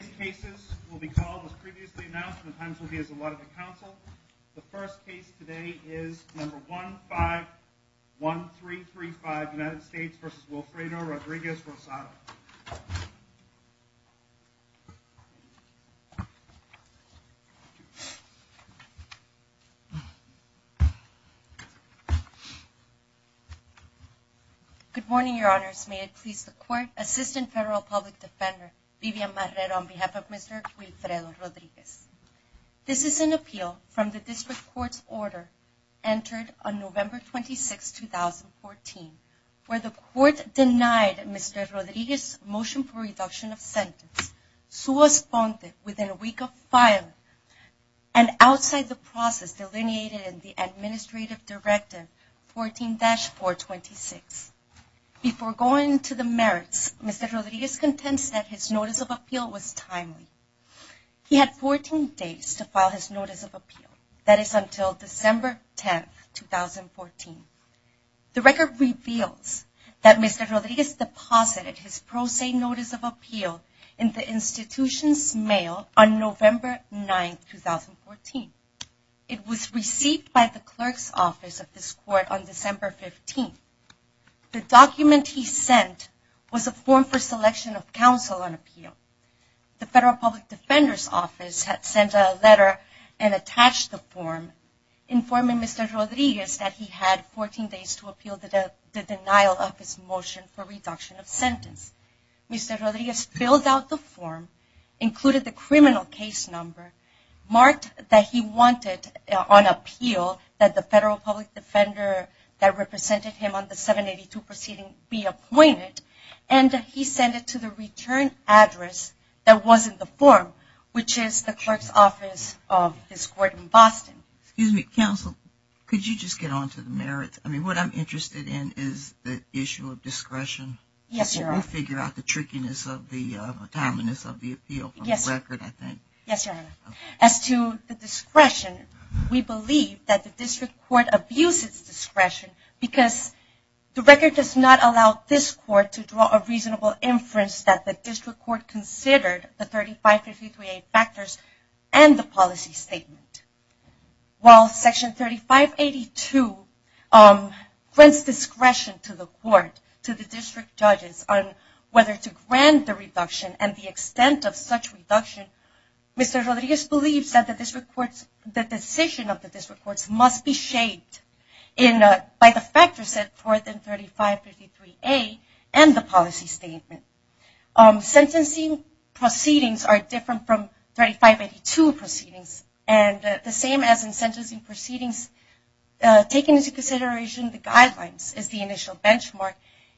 These cases will be called as previously announced and the times will be as allotted to counsel. The first case today is number 151335 United States v. Wilfredo Rodriguez-Rosado. Good morning, your honors. May it please the court. Assistant Federal Public Defender Vivian Marrero on behalf of Mr. Wilfredo Rodriguez. This is an appeal from the district court's order entered on November 26, 2014, where the court denied Mr. Rodriguez's motion for reduction of sentence. Sua sponte within a week of filing and outside the process delineated in the administrative directive 14-426. Before going to the merits, Mr. Rodriguez contends that his notice of appeal was timely. He had 14 days to file his notice of appeal, that is until December 10, 2014. The record reveals that Mr. Rodriguez deposited his pro se notice of appeal in the institution's office on November 9, 2014. It was received by the clerk's office of this court on December 15. The document he sent was a form for selection of counsel on appeal. The Federal Public Defender's office had sent a letter and attached the form informing Mr. Rodriguez that he had 14 days to appeal the denial of his motion for reduction of sentence. Mr. Rodriguez filled out the form, included the criminal case number, marked that he wanted on appeal that the Federal Public Defender that represented him on the 782 proceeding be appointed, and he sent it to the return address that was in the form, which is the clerk's office of this court in Boston. Excuse me, counsel, could you just get on to the merits? I mean, what I'm interested in is the issue of discretion. Yes, Your Honor. Figure out the trickiness of the timeliness of the appeal from the record, I think. Yes, Your Honor. As to the discretion, we believe that the district court abuses discretion because the record does not allow this court to draw a reasonable inference that the district court considered the 3553A factors and the policy statement. While Section 3582 grants discretion to the court, to the district judges on whether to grant the reduction and the extent of such reduction, Mr. Rodriguez believes that the decision of the district courts must be shaped by the factors set forth in 3553A and the policy statement. Sentencing proceedings are the guidelines as the initial benchmark.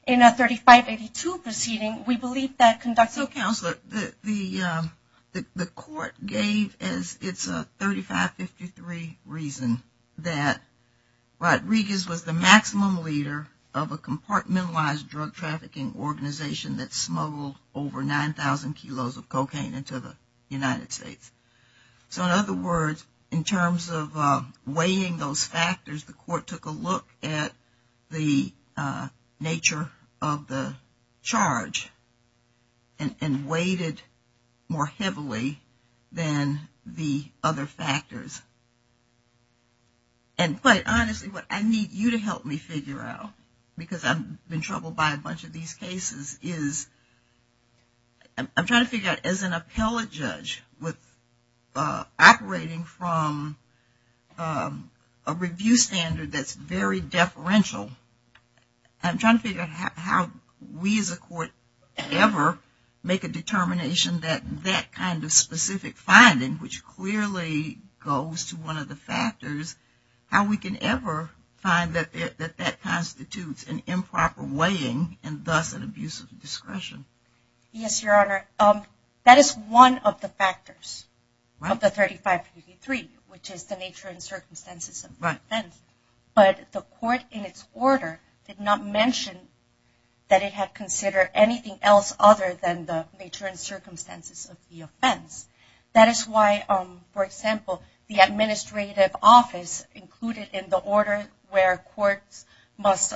In a 3582 proceeding, we believe that conduct... So, counselor, the court gave as its 3553 reason that Rodriguez was the maximum leader of a compartmentalized drug trafficking organization that smuggled over 9,000 kilos of cocaine into the United States. So, in other words, in terms of weighing those factors, the court took a look at the nature of the charge and weighted more heavily than the other factors. And quite honestly, what I need you to help me figure out, because I've been troubled by a bunch of these cases, is I'm trying to figure out as an appellate judge operating from a review standard that's very deferential, I'm trying to figure out how we as a court ever make a determination that that kind of specific finding, which clearly goes to one of the factors, how we can ever find that that constitutes an improper weighing and thus an abuse of discretion. Yes, your honor, that is one of the factors of the 3553, which is the nature and circumstances of the offense. But the court in its order did not mention that it had considered anything else other than the nature and circumstances of the offense. That is why, for example, the administrative office included in the order where courts must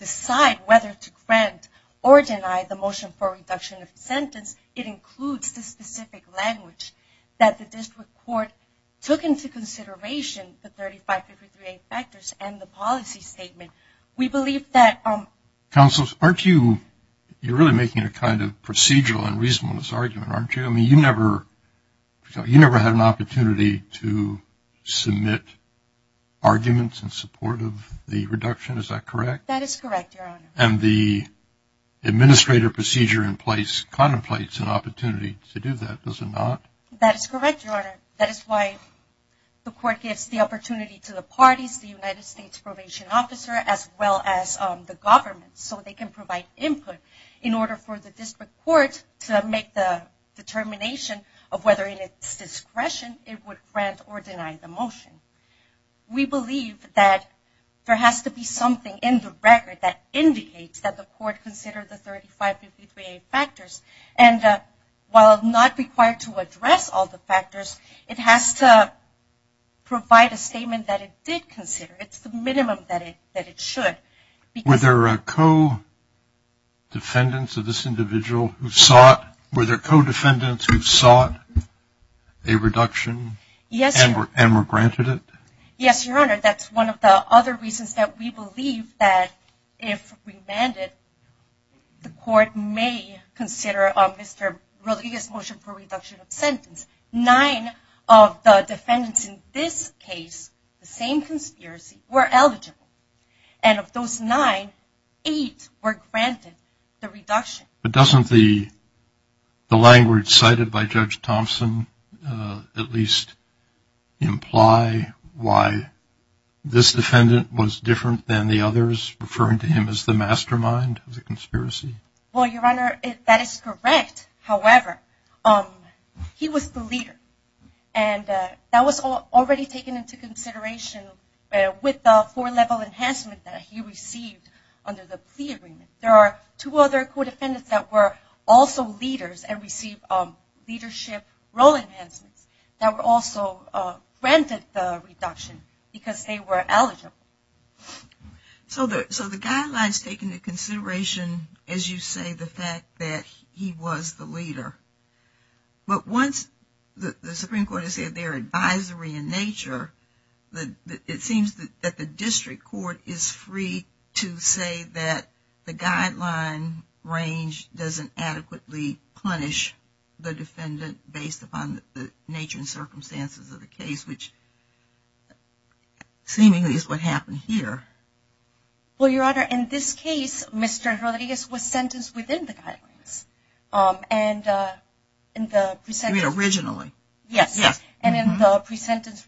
decide whether to grant or deny the motion for reduction of sentence, it includes the specific language that the district court took into consideration, the 3553A factors and the policy statement. We believe that... Counselors, aren't you, you're really making a kind of procedural and reasonableness argument, aren't you? You never had an opportunity to submit arguments in support of the reduction, is that correct? That is correct, your honor. And the administrative procedure in place contemplates an opportunity to do that, does it not? That is correct, your honor. That is why the court gives the opportunity to the parties, the United States probation officer, as well as the government, so they can provide input in order for the district court to make the determination of whether in its discretion it would grant or deny the motion. We believe that there has to be something in the record that indicates that the court considered the 3553A factors. And while not required to address all the factors, it has to provide a statement that it did consider. It's the minimum that it should. Were there co-defendants of this individual who sought a reduction and were granted it? Yes, your honor. That's one of the other reasons that we believe that if remanded, the court may consider Mr. Rodriguez's motion for reduction of sentence. Nine of the defendants in this case, the nine, eight were granted the reduction. But doesn't the language cited by Judge Thompson at least imply why this defendant was different than the others, referring to him as the mastermind of the conspiracy? Well, your honor, that is correct. However, he was the leader. And that was already taken into consideration with the four-level enhancement that he received under the plea agreement. There are two other co-defendants that were also leaders and received leadership role enhancements that were also granted the reduction because they were eligible. So the guidelines take into consideration, as you say, the fact that he was the leader. But once the it seems that the district court is free to say that the guideline range doesn't adequately punish the defendant based upon the nature and circumstances of the case, which seemingly is what happened here. Well, your honor, in this case, Mr. Rodriguez was sentenced within the guidelines. And in the pre-sentence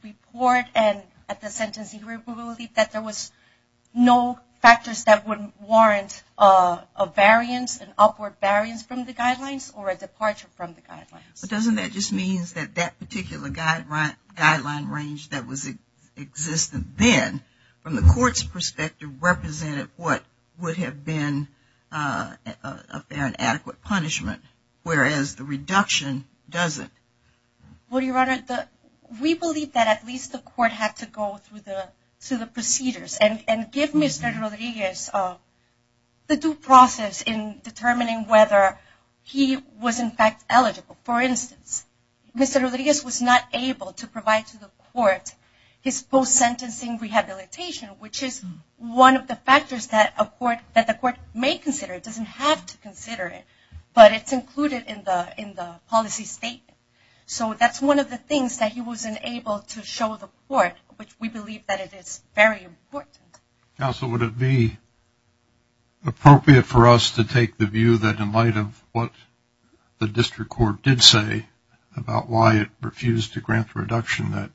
report and at the sentencing review that there was no factors that would warrant a variance, an upward variance from the guidelines or a departure from the guidelines. But doesn't that just mean that that particular guideline range that was existent then, from the court's perspective, represented what would have been an adequate punishment, whereas the reduction doesn't? Well, your honor, we believe that at least the court had to go through the procedures and give Mr. Rodriguez the due process in determining whether he was in fact eligible. For instance, Mr. Rodriguez was not able to provide to the court his post-sentencing rehabilitation, which is one of the factors that the court may consider. It doesn't have to consider it, but it's included in the policy statement. So that's one of the things that he wasn't able to show the court, which we believe that it is very important. Counsel, would it be appropriate for us to take the view that in light of what the district court did say about why it refused to grant the reduction that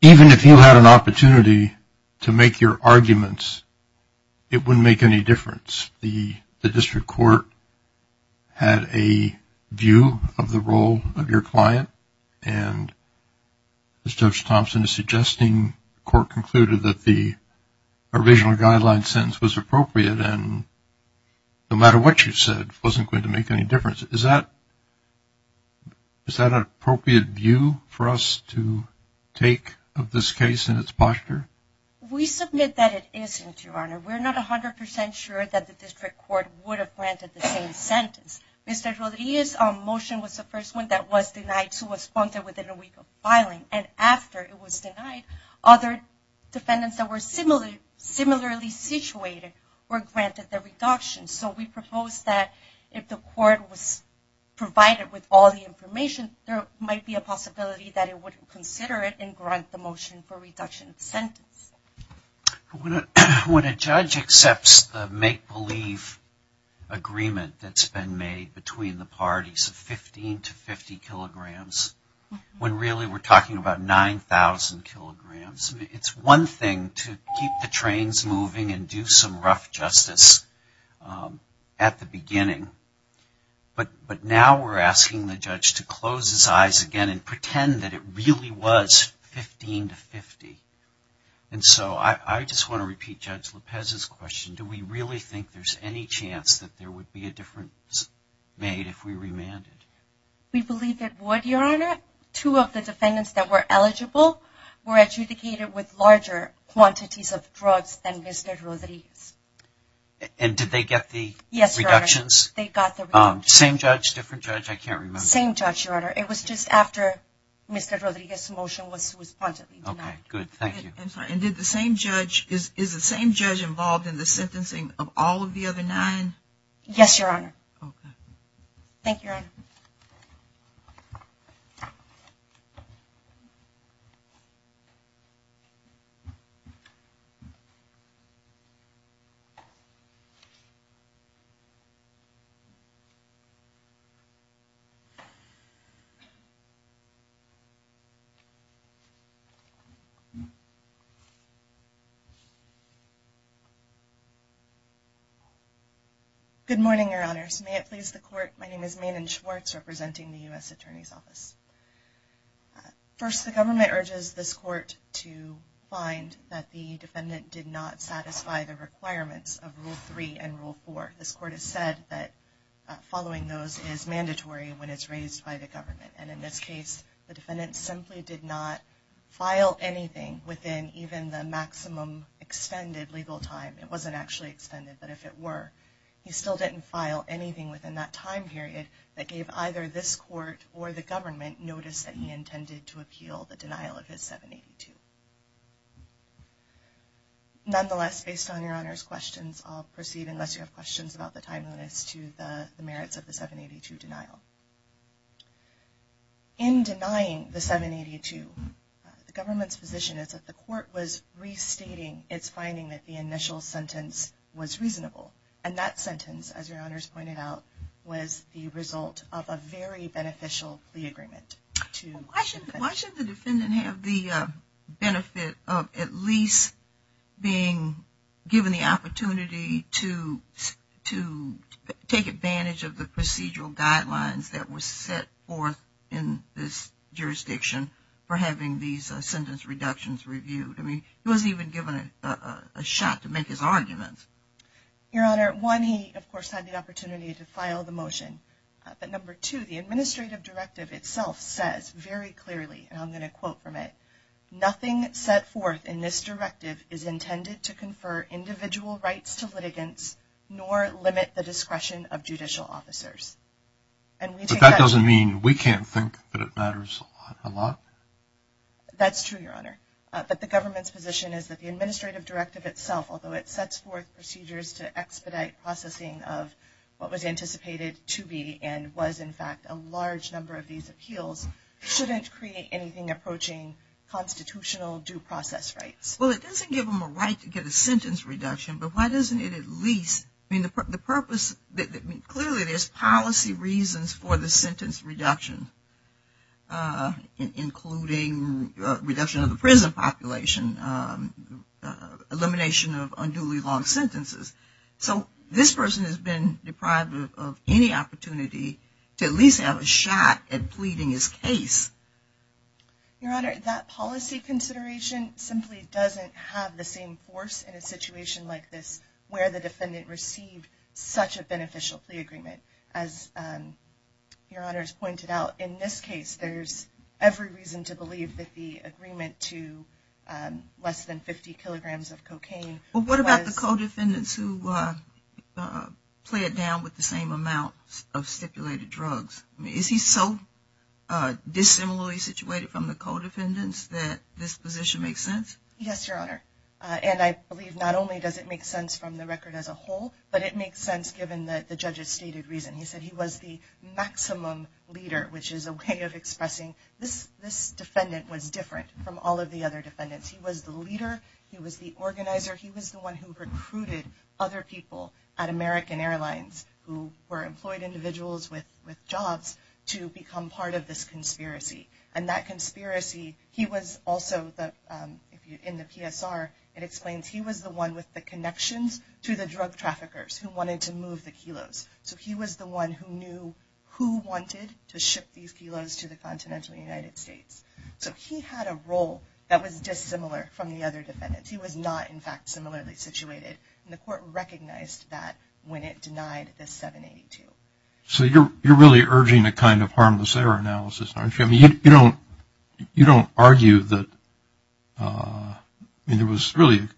even if you had an opportunity to make your arguments, it wouldn't make any difference? The district court had a view of the role of your client, and as Judge Thompson is suggesting, the court concluded that the original guideline sentence was appropriate and no matter what you said wasn't going to make any difference. Is that an appropriate view for us to take of this case and its posture? We submit that it isn't, your honor. We're not 100% sure that the district court would have granted the same sentence. Mr. Rodriguez's motion was the first one that was denied to a sponsor within a week of filing, and after it was denied, other defendants that were similarly situated were provided with all the information, there might be a possibility that it wouldn't consider it and grant the motion for reduction of sentence. When a judge accepts the make-believe agreement that's been made between the parties of 15 to 50 kilograms, when really we're talking about 9,000 kilograms, it's one thing to keep the trains moving and do some rough justice at the beginning, but now we're asking the judge to close his eyes again and pretend that it really was 15 to 50. And so I just want to repeat Judge Lopez's question. Do we really think there's any chance that there would be a difference made if we remanded? We believe that would, your honor. Two of the defendants that were eligible were adjudicated with larger quantities of drugs than Mr. Rodriguez. And did they get the reductions? Yes, your honor. They got the reductions. Same judge? Different judge? I can't remember. Same judge, your honor. It was just after Mr. Rodriguez's motion was spontaneously denied. Okay, good. Thank you. I'm sorry, and did the same judge, is the same judge involved in the sentencing of all of the other nine? Yes, your honor. Okay. Thank you, your honor. Good morning, your honors. May it please the court, my name is Maenen Schwartz, representing the U.S. Attorney's Office. First, the government urges this court to find that the defendant did not satisfy the requirements of Rule 3 and Rule 4. This court has said that following those is mandatory when it's raised by the government. And in this case, the defendant simply did not file anything within even the maximum extended legal time. It wasn't actually extended, but if it were, he still didn't file anything within that time period that gave either this court or the government notice that he intended to appeal the denial of his 782. Nonetheless, based on your honor's questions, I'll proceed unless you have questions about the timeliness to the merits of the 782 denial. In denying the 782, the government's position is that the court was restating its finding that the initial sentence was reasonable. And that sentence, as your honors pointed out, was the result of a very beneficial plea agreement. Why should the defendant have the benefit of at least being given the opportunity to take advantage of the procedural guidelines that were set forth in this jurisdiction for having these sentence reductions reviewed? I mean, he wasn't even given a shot to make his arguments. Your honor, one, he of course had the opportunity to file the motion, but number two, the administrative directive itself says very clearly, and I'm going to quote from it, nothing set forth in this directive is intended to confer individual rights to litigants nor limit the discretion of judicial officers. But that doesn't mean we can't think that it That's true, your honor. But the government's position is that the administrative directive itself, although it sets forth procedures to expedite processing of what was anticipated to be and was in fact a large number of these appeals, shouldn't create anything approaching constitutional due process rights. Well, it doesn't give them a right to get a sentence reduction, but why doesn't it at least, I mean, the purpose, clearly there's policy reasons for the sentence reduction, including reduction of the prison population, elimination of unduly long sentences. So this person has been deprived of any opportunity to at least have a shot at pleading his case. Your honor, that policy consideration simply doesn't have the same force in a situation like this where the defendant received such a beneficial plea agreement as your honors pointed out. In this case, there's every reason to believe that the agreement to less than 50 kilograms of cocaine. Well, what about the co-defendants who play it down with the same amount of stipulated drugs? Is he so dissimilarly situated from the co-defendants that this position makes sense? Yes, your honor. And I believe not only does it make sense from the record as a whole, but it makes sense given that the judge's stated reason. He said he was the maximum leader, which is a way of expressing this defendant was different from all of the other defendants. He was the leader. He was the organizer. He was the one who recruited other people at American Airlines who were employed individuals with jobs to become part of this conspiracy. And that conspiracy, he was also in the PSR, it explains he was the one with the knew who wanted to ship these kilos to the continental United States. So he had a role that was dissimilar from the other defendants. He was not, in fact, similarly situated. And the court recognized that when it denied the 782. So you're really urging a kind of harmless error analysis, aren't you? I mean, you don't argue that, I mean, there was really a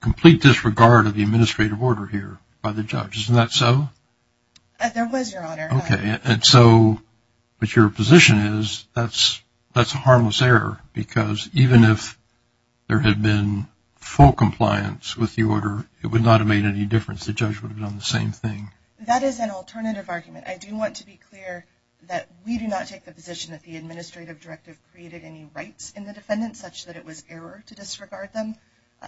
complete disregard of the administrative order here by the judge, isn't that so? There was, your honor. Okay. And so, but your position is that's a harmless error because even if there had been full compliance with the order, it would not have made any difference. The judge would have done the same thing. That is an alternative argument. I do want to be clear that we do not take the position that the administrative directive created any rights in the defendant such that it was error to disregard them.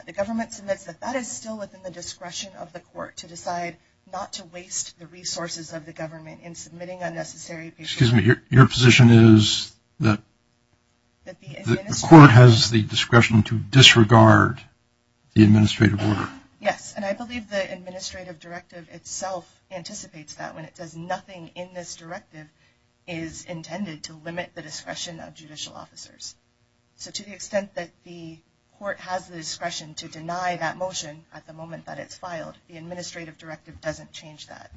The government submits that that is still within the discretion of the court to decide not to waste the resources of the government in submitting unnecessary. Excuse me, your position is that the court has the discretion to disregard the administrative order? Yes. And I believe the administrative directive itself anticipates that when it does nothing in this court has the discretion to deny that motion at the moment that it's filed. The administrative directive doesn't change that.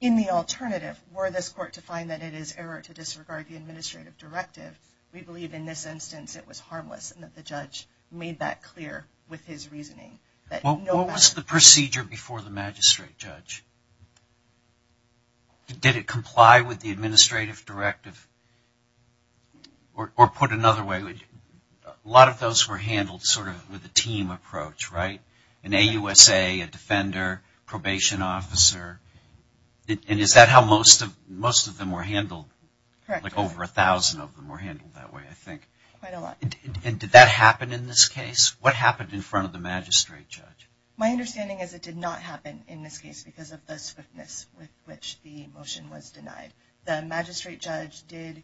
In the alternative, were this court to find that it is error to disregard the administrative directive, we believe in this instance it was harmless and that the judge made that clear with his reasoning. What was the procedure before the magistrate judge? Did it comply with the administrative directive? Or put another way, a lot of those were handled sort of with a team approach, right? An AUSA, a defender, probation officer, and is that how most of them were handled? Correct. Like over a thousand of them were handled that way, I think. Quite a lot. And did that happen in this case? What happened in front of the magistrate judge? My understanding is it did not happen in this case. The magistrate judge did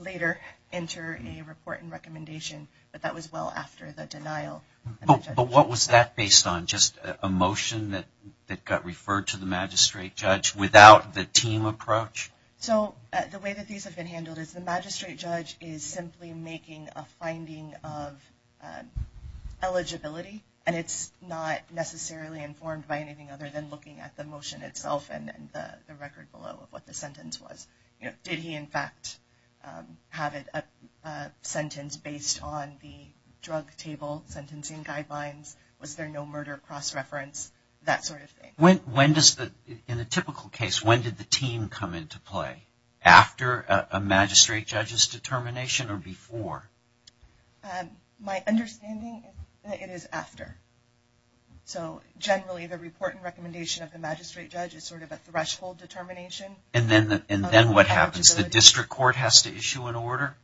later enter a report and recommendation, but that was well after the denial. But what was that based on? Just a motion that got referred to the magistrate judge without the team approach? So the way that these have been handled is the magistrate judge is simply making a finding of eligibility and it's not necessarily informed by anything other than looking at the have it a sentence based on the drug table sentencing guidelines, was there no murder cross-reference, that sort of thing. When does the, in a typical case, when did the team come into play? After a magistrate judge's determination or before? My understanding is it is after. So generally the report and recommendation of the magistrate judge is sort of a threshold determination. And then what happens? The district court has to issue an order?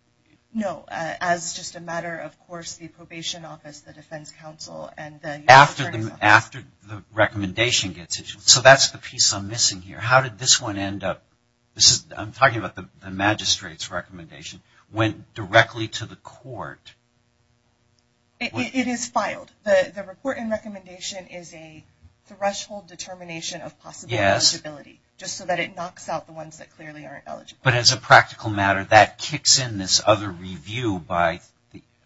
No, as just a matter of course, the probation office, the defense counsel, and the... After the recommendation gets issued. So that's the piece I'm missing here. How did this one end up, this is, I'm talking about the magistrate's recommendation, went directly to the court? It is filed. The report and recommendation is a threshold determination of possible eligibility, just so that it knocks out the ones that clearly aren't eligible. But as a practical matter, that kicks in this other review by,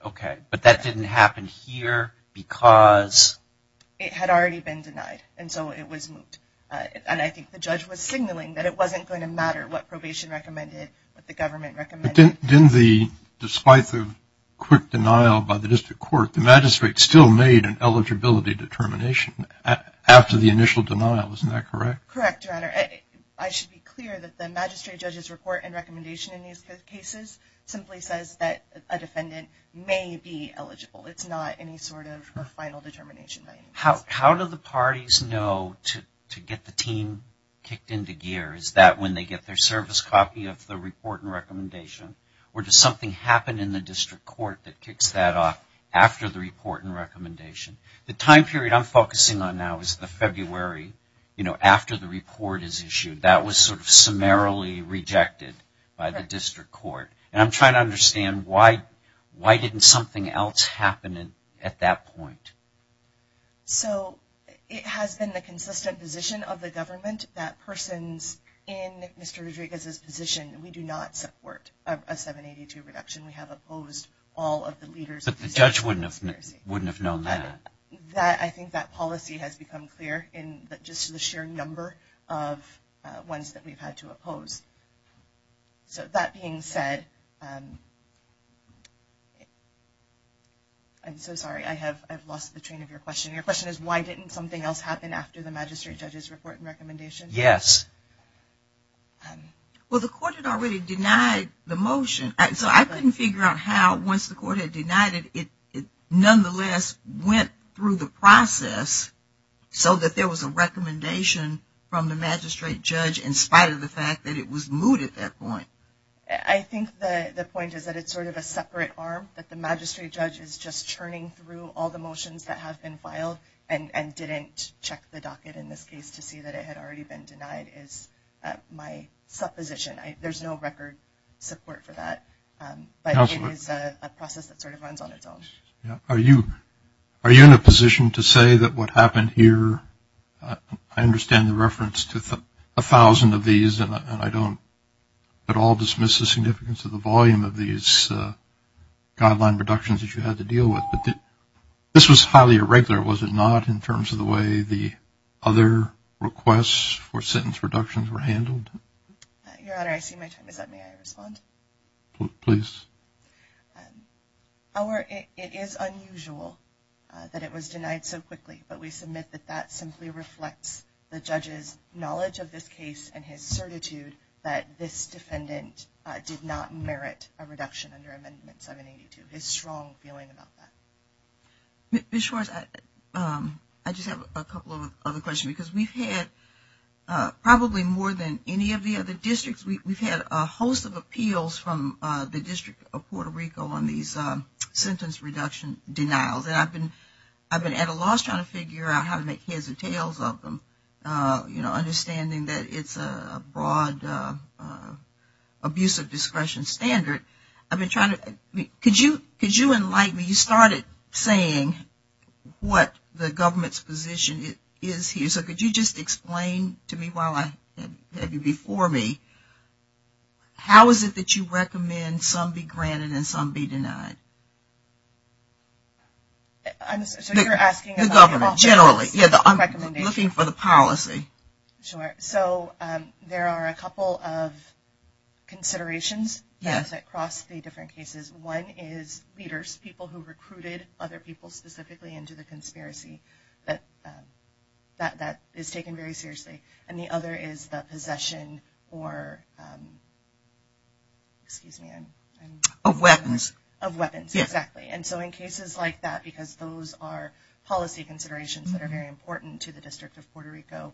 okay, but that didn't happen here because? It had already been denied and so it was moved. And I think the judge was signaling that it wasn't going to matter what probation recommended, what the government recommended. Didn't the, despite the quick denial by the district court, the determination after the initial denial, isn't that correct? Correct, your honor. I should be clear that the magistrate judge's report and recommendation in these cases simply says that a defendant may be eligible. It's not any sort of a final determination. How do the parties know to get the team kicked into gear? Is that when they get their service copy of the report and recommendation? Or does something happen in the district court that kicks that off after the report and The time period I'm focusing on now is the February, you know, after the report is issued. That was sort of summarily rejected by the district court. And I'm trying to understand why, why didn't something else happen at that point? So it has been the consistent position of the government that persons in Mr. Rodriguez's position, we do not support a 782 reduction. We have opposed all of the But the judge wouldn't have, wouldn't have known that. That, I think that policy has become clear in just the sheer number of ones that we've had to oppose. So that being said, I'm so sorry, I have, I've lost the train of your question. Your question is why didn't something else happen after the magistrate judge's report and recommendation? Yes. Well, the court had already denied the motion. So I couldn't figure out how, once the court had denied it, it nonetheless went through the process so that there was a recommendation from the magistrate judge in spite of the fact that it was moved at that point. I think the point is that it's sort of a separate arm that the magistrate judge is just churning through all the motions that have been filed and didn't check the docket in this case to see that it had already been denied is my supposition. There's no record support for that. But it is a process that sort of runs on its own. Are you, are you in a position to say that what happened here, I understand the reference to a thousand of these and I don't at all dismiss the significance of the volume of these guideline reductions that you had to deal with, but this was highly irregular, was it not, in terms of the way the other requests for sentence reductions were handled? Your Honor, I see my time is up. May I respond? Please. Our, it is unusual that it was denied so quickly, but we submit that that simply reflects the judge's knowledge of this case and his certitude that this defendant did not merit a reduction under Amendment 782, his strong feeling about that. Ms. Schwartz, I just have a couple of other questions because we've had probably more than any of the other districts, we've had a host of appeals from the District of Puerto Rico on these sentence reduction denials and I've been, I've been at a loss trying to figure out how to make heads or tails of them, you know, understanding that it's a broad abuse of discretion standard. I've been trying to, could you, could you enlighten me, you started saying what the government's position is here, so could you just explain to me while I have you before me, how is it that you recommend some be granted and some be denied? I'm, so you're asking about the government? Generally, yeah, I'm looking for the policy. Sure, so there are a couple of considerations that cross the different cases. One is leaders, people who recruited other people specifically into the conspiracy that, that is taken very seriously, and the other is the possession or, excuse me, of weapons, of weapons, exactly, and so in cases like that, because those are policy considerations that are very important to the District of Puerto Rico,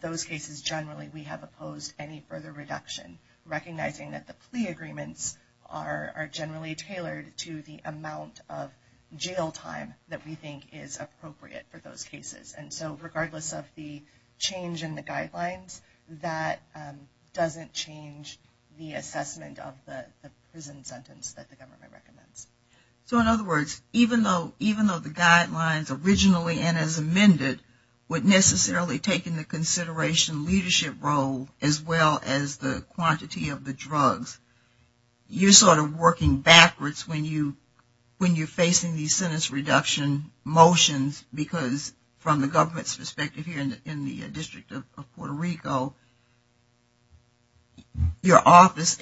those cases generally we have opposed any further reduction, recognizing that the plea agreements are generally tailored to the amount of jail time that we think is appropriate for those cases, and so regardless of the change in the guidelines, that doesn't change the assessment of the prison sentence that the government recommends. So in other words, even though, even though the guidelines originally and as amended would necessarily take into consideration leadership role as well as the quantity of the drugs, you're sort of working backwards when you, when you're facing these sentence reduction motions because from the government's perspective here in the District of Puerto Rico, your office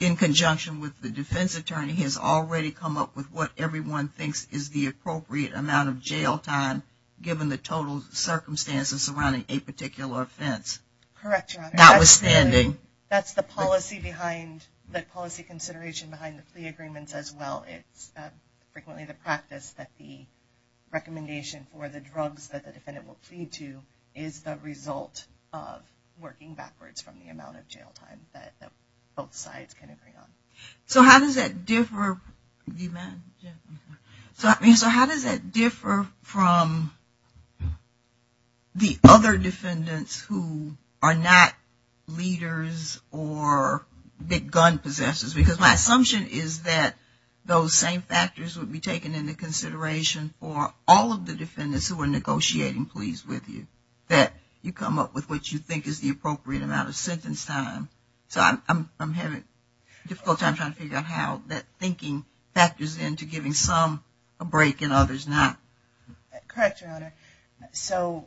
in conjunction with the defense attorney has already come up with what everyone thinks is the appropriate amount of jail time given the total circumstances surrounding a particular offense. Correct, your honor. Notwithstanding. That's the policy behind, the policy consideration behind the plea agreements as well. It's frequently the practice that the recommendation for the drugs that the defendant will plead to is the result of working backwards from the amount of jail time that both sides can agree on. So how does that differ, do you mind? Yeah. So I mean, so how does that differ from the other defendants who are not leaders or big gun possessors? Because my assumption is that those same factors would be taken into consideration for all of the defendants who are negotiating pleas with you, that you come up with what you think is the appropriate amount of sentence time. So I'm having a difficult time trying to figure out how that thinking factors into giving some a break and others not. Correct, your honor. So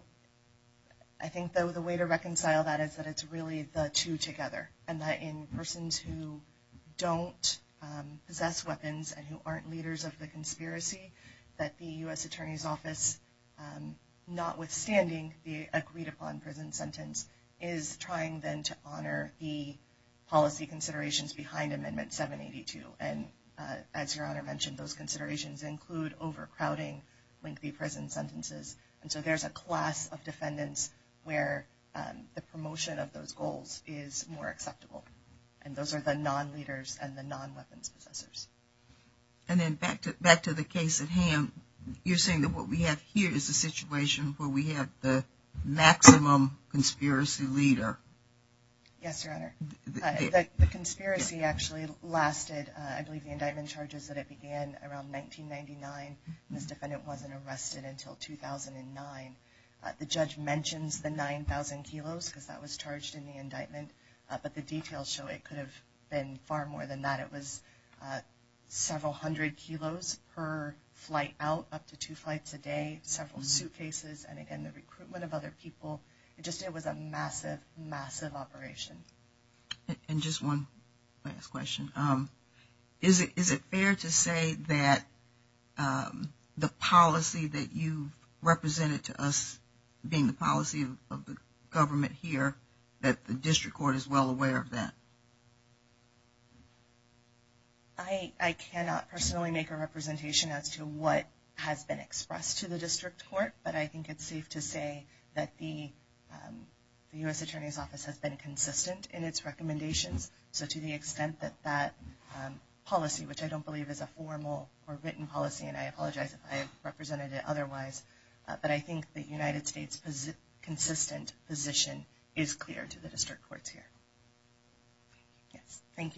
I think though the way to reconcile that is that it's really the two together and that in persons who don't possess weapons and who aren't leaders of the conspiracy that the U.S. Attorney's Office, notwithstanding the agreed upon prison sentence, is trying then to honor the policy considerations behind Amendment 782. And as your honor mentioned, those considerations include overcrowding, lengthy prison sentences. And so there's a class of defendants where the promotion of those goals is more acceptable. And those are the non-leaders and the non-weapons possessors. And then back to the case at hand, you're saying that what we have here is a situation where we have the maximum conspiracy leader. Yes, your honor. The conspiracy actually lasted, I believe the indictment charges that it began around 1999. This defendant wasn't arrested until 2009. The judge mentions the 9,000 kilos because that was charged in the indictment, but the details show it could have been far more than that. It was several hundred kilos per flight out, up to two flights a day, several suitcases, and again the recruitment of other people. It just was a massive, massive operation. And just one last question. Is it fair to say that the policy that you represented to us being the policy of the government here, that the district court is well aware of that? I cannot personally make a representation as to what has been expressed to the district court, but I think it's safe to say that the U.S. Attorney's Office has been consistent in its recommendations. So to the extent that that policy, which I don't believe is a formal or written policy, and I apologize if I represented it otherwise, but I think the United States' consistent position is clear to the district courts here. Yes, thank you.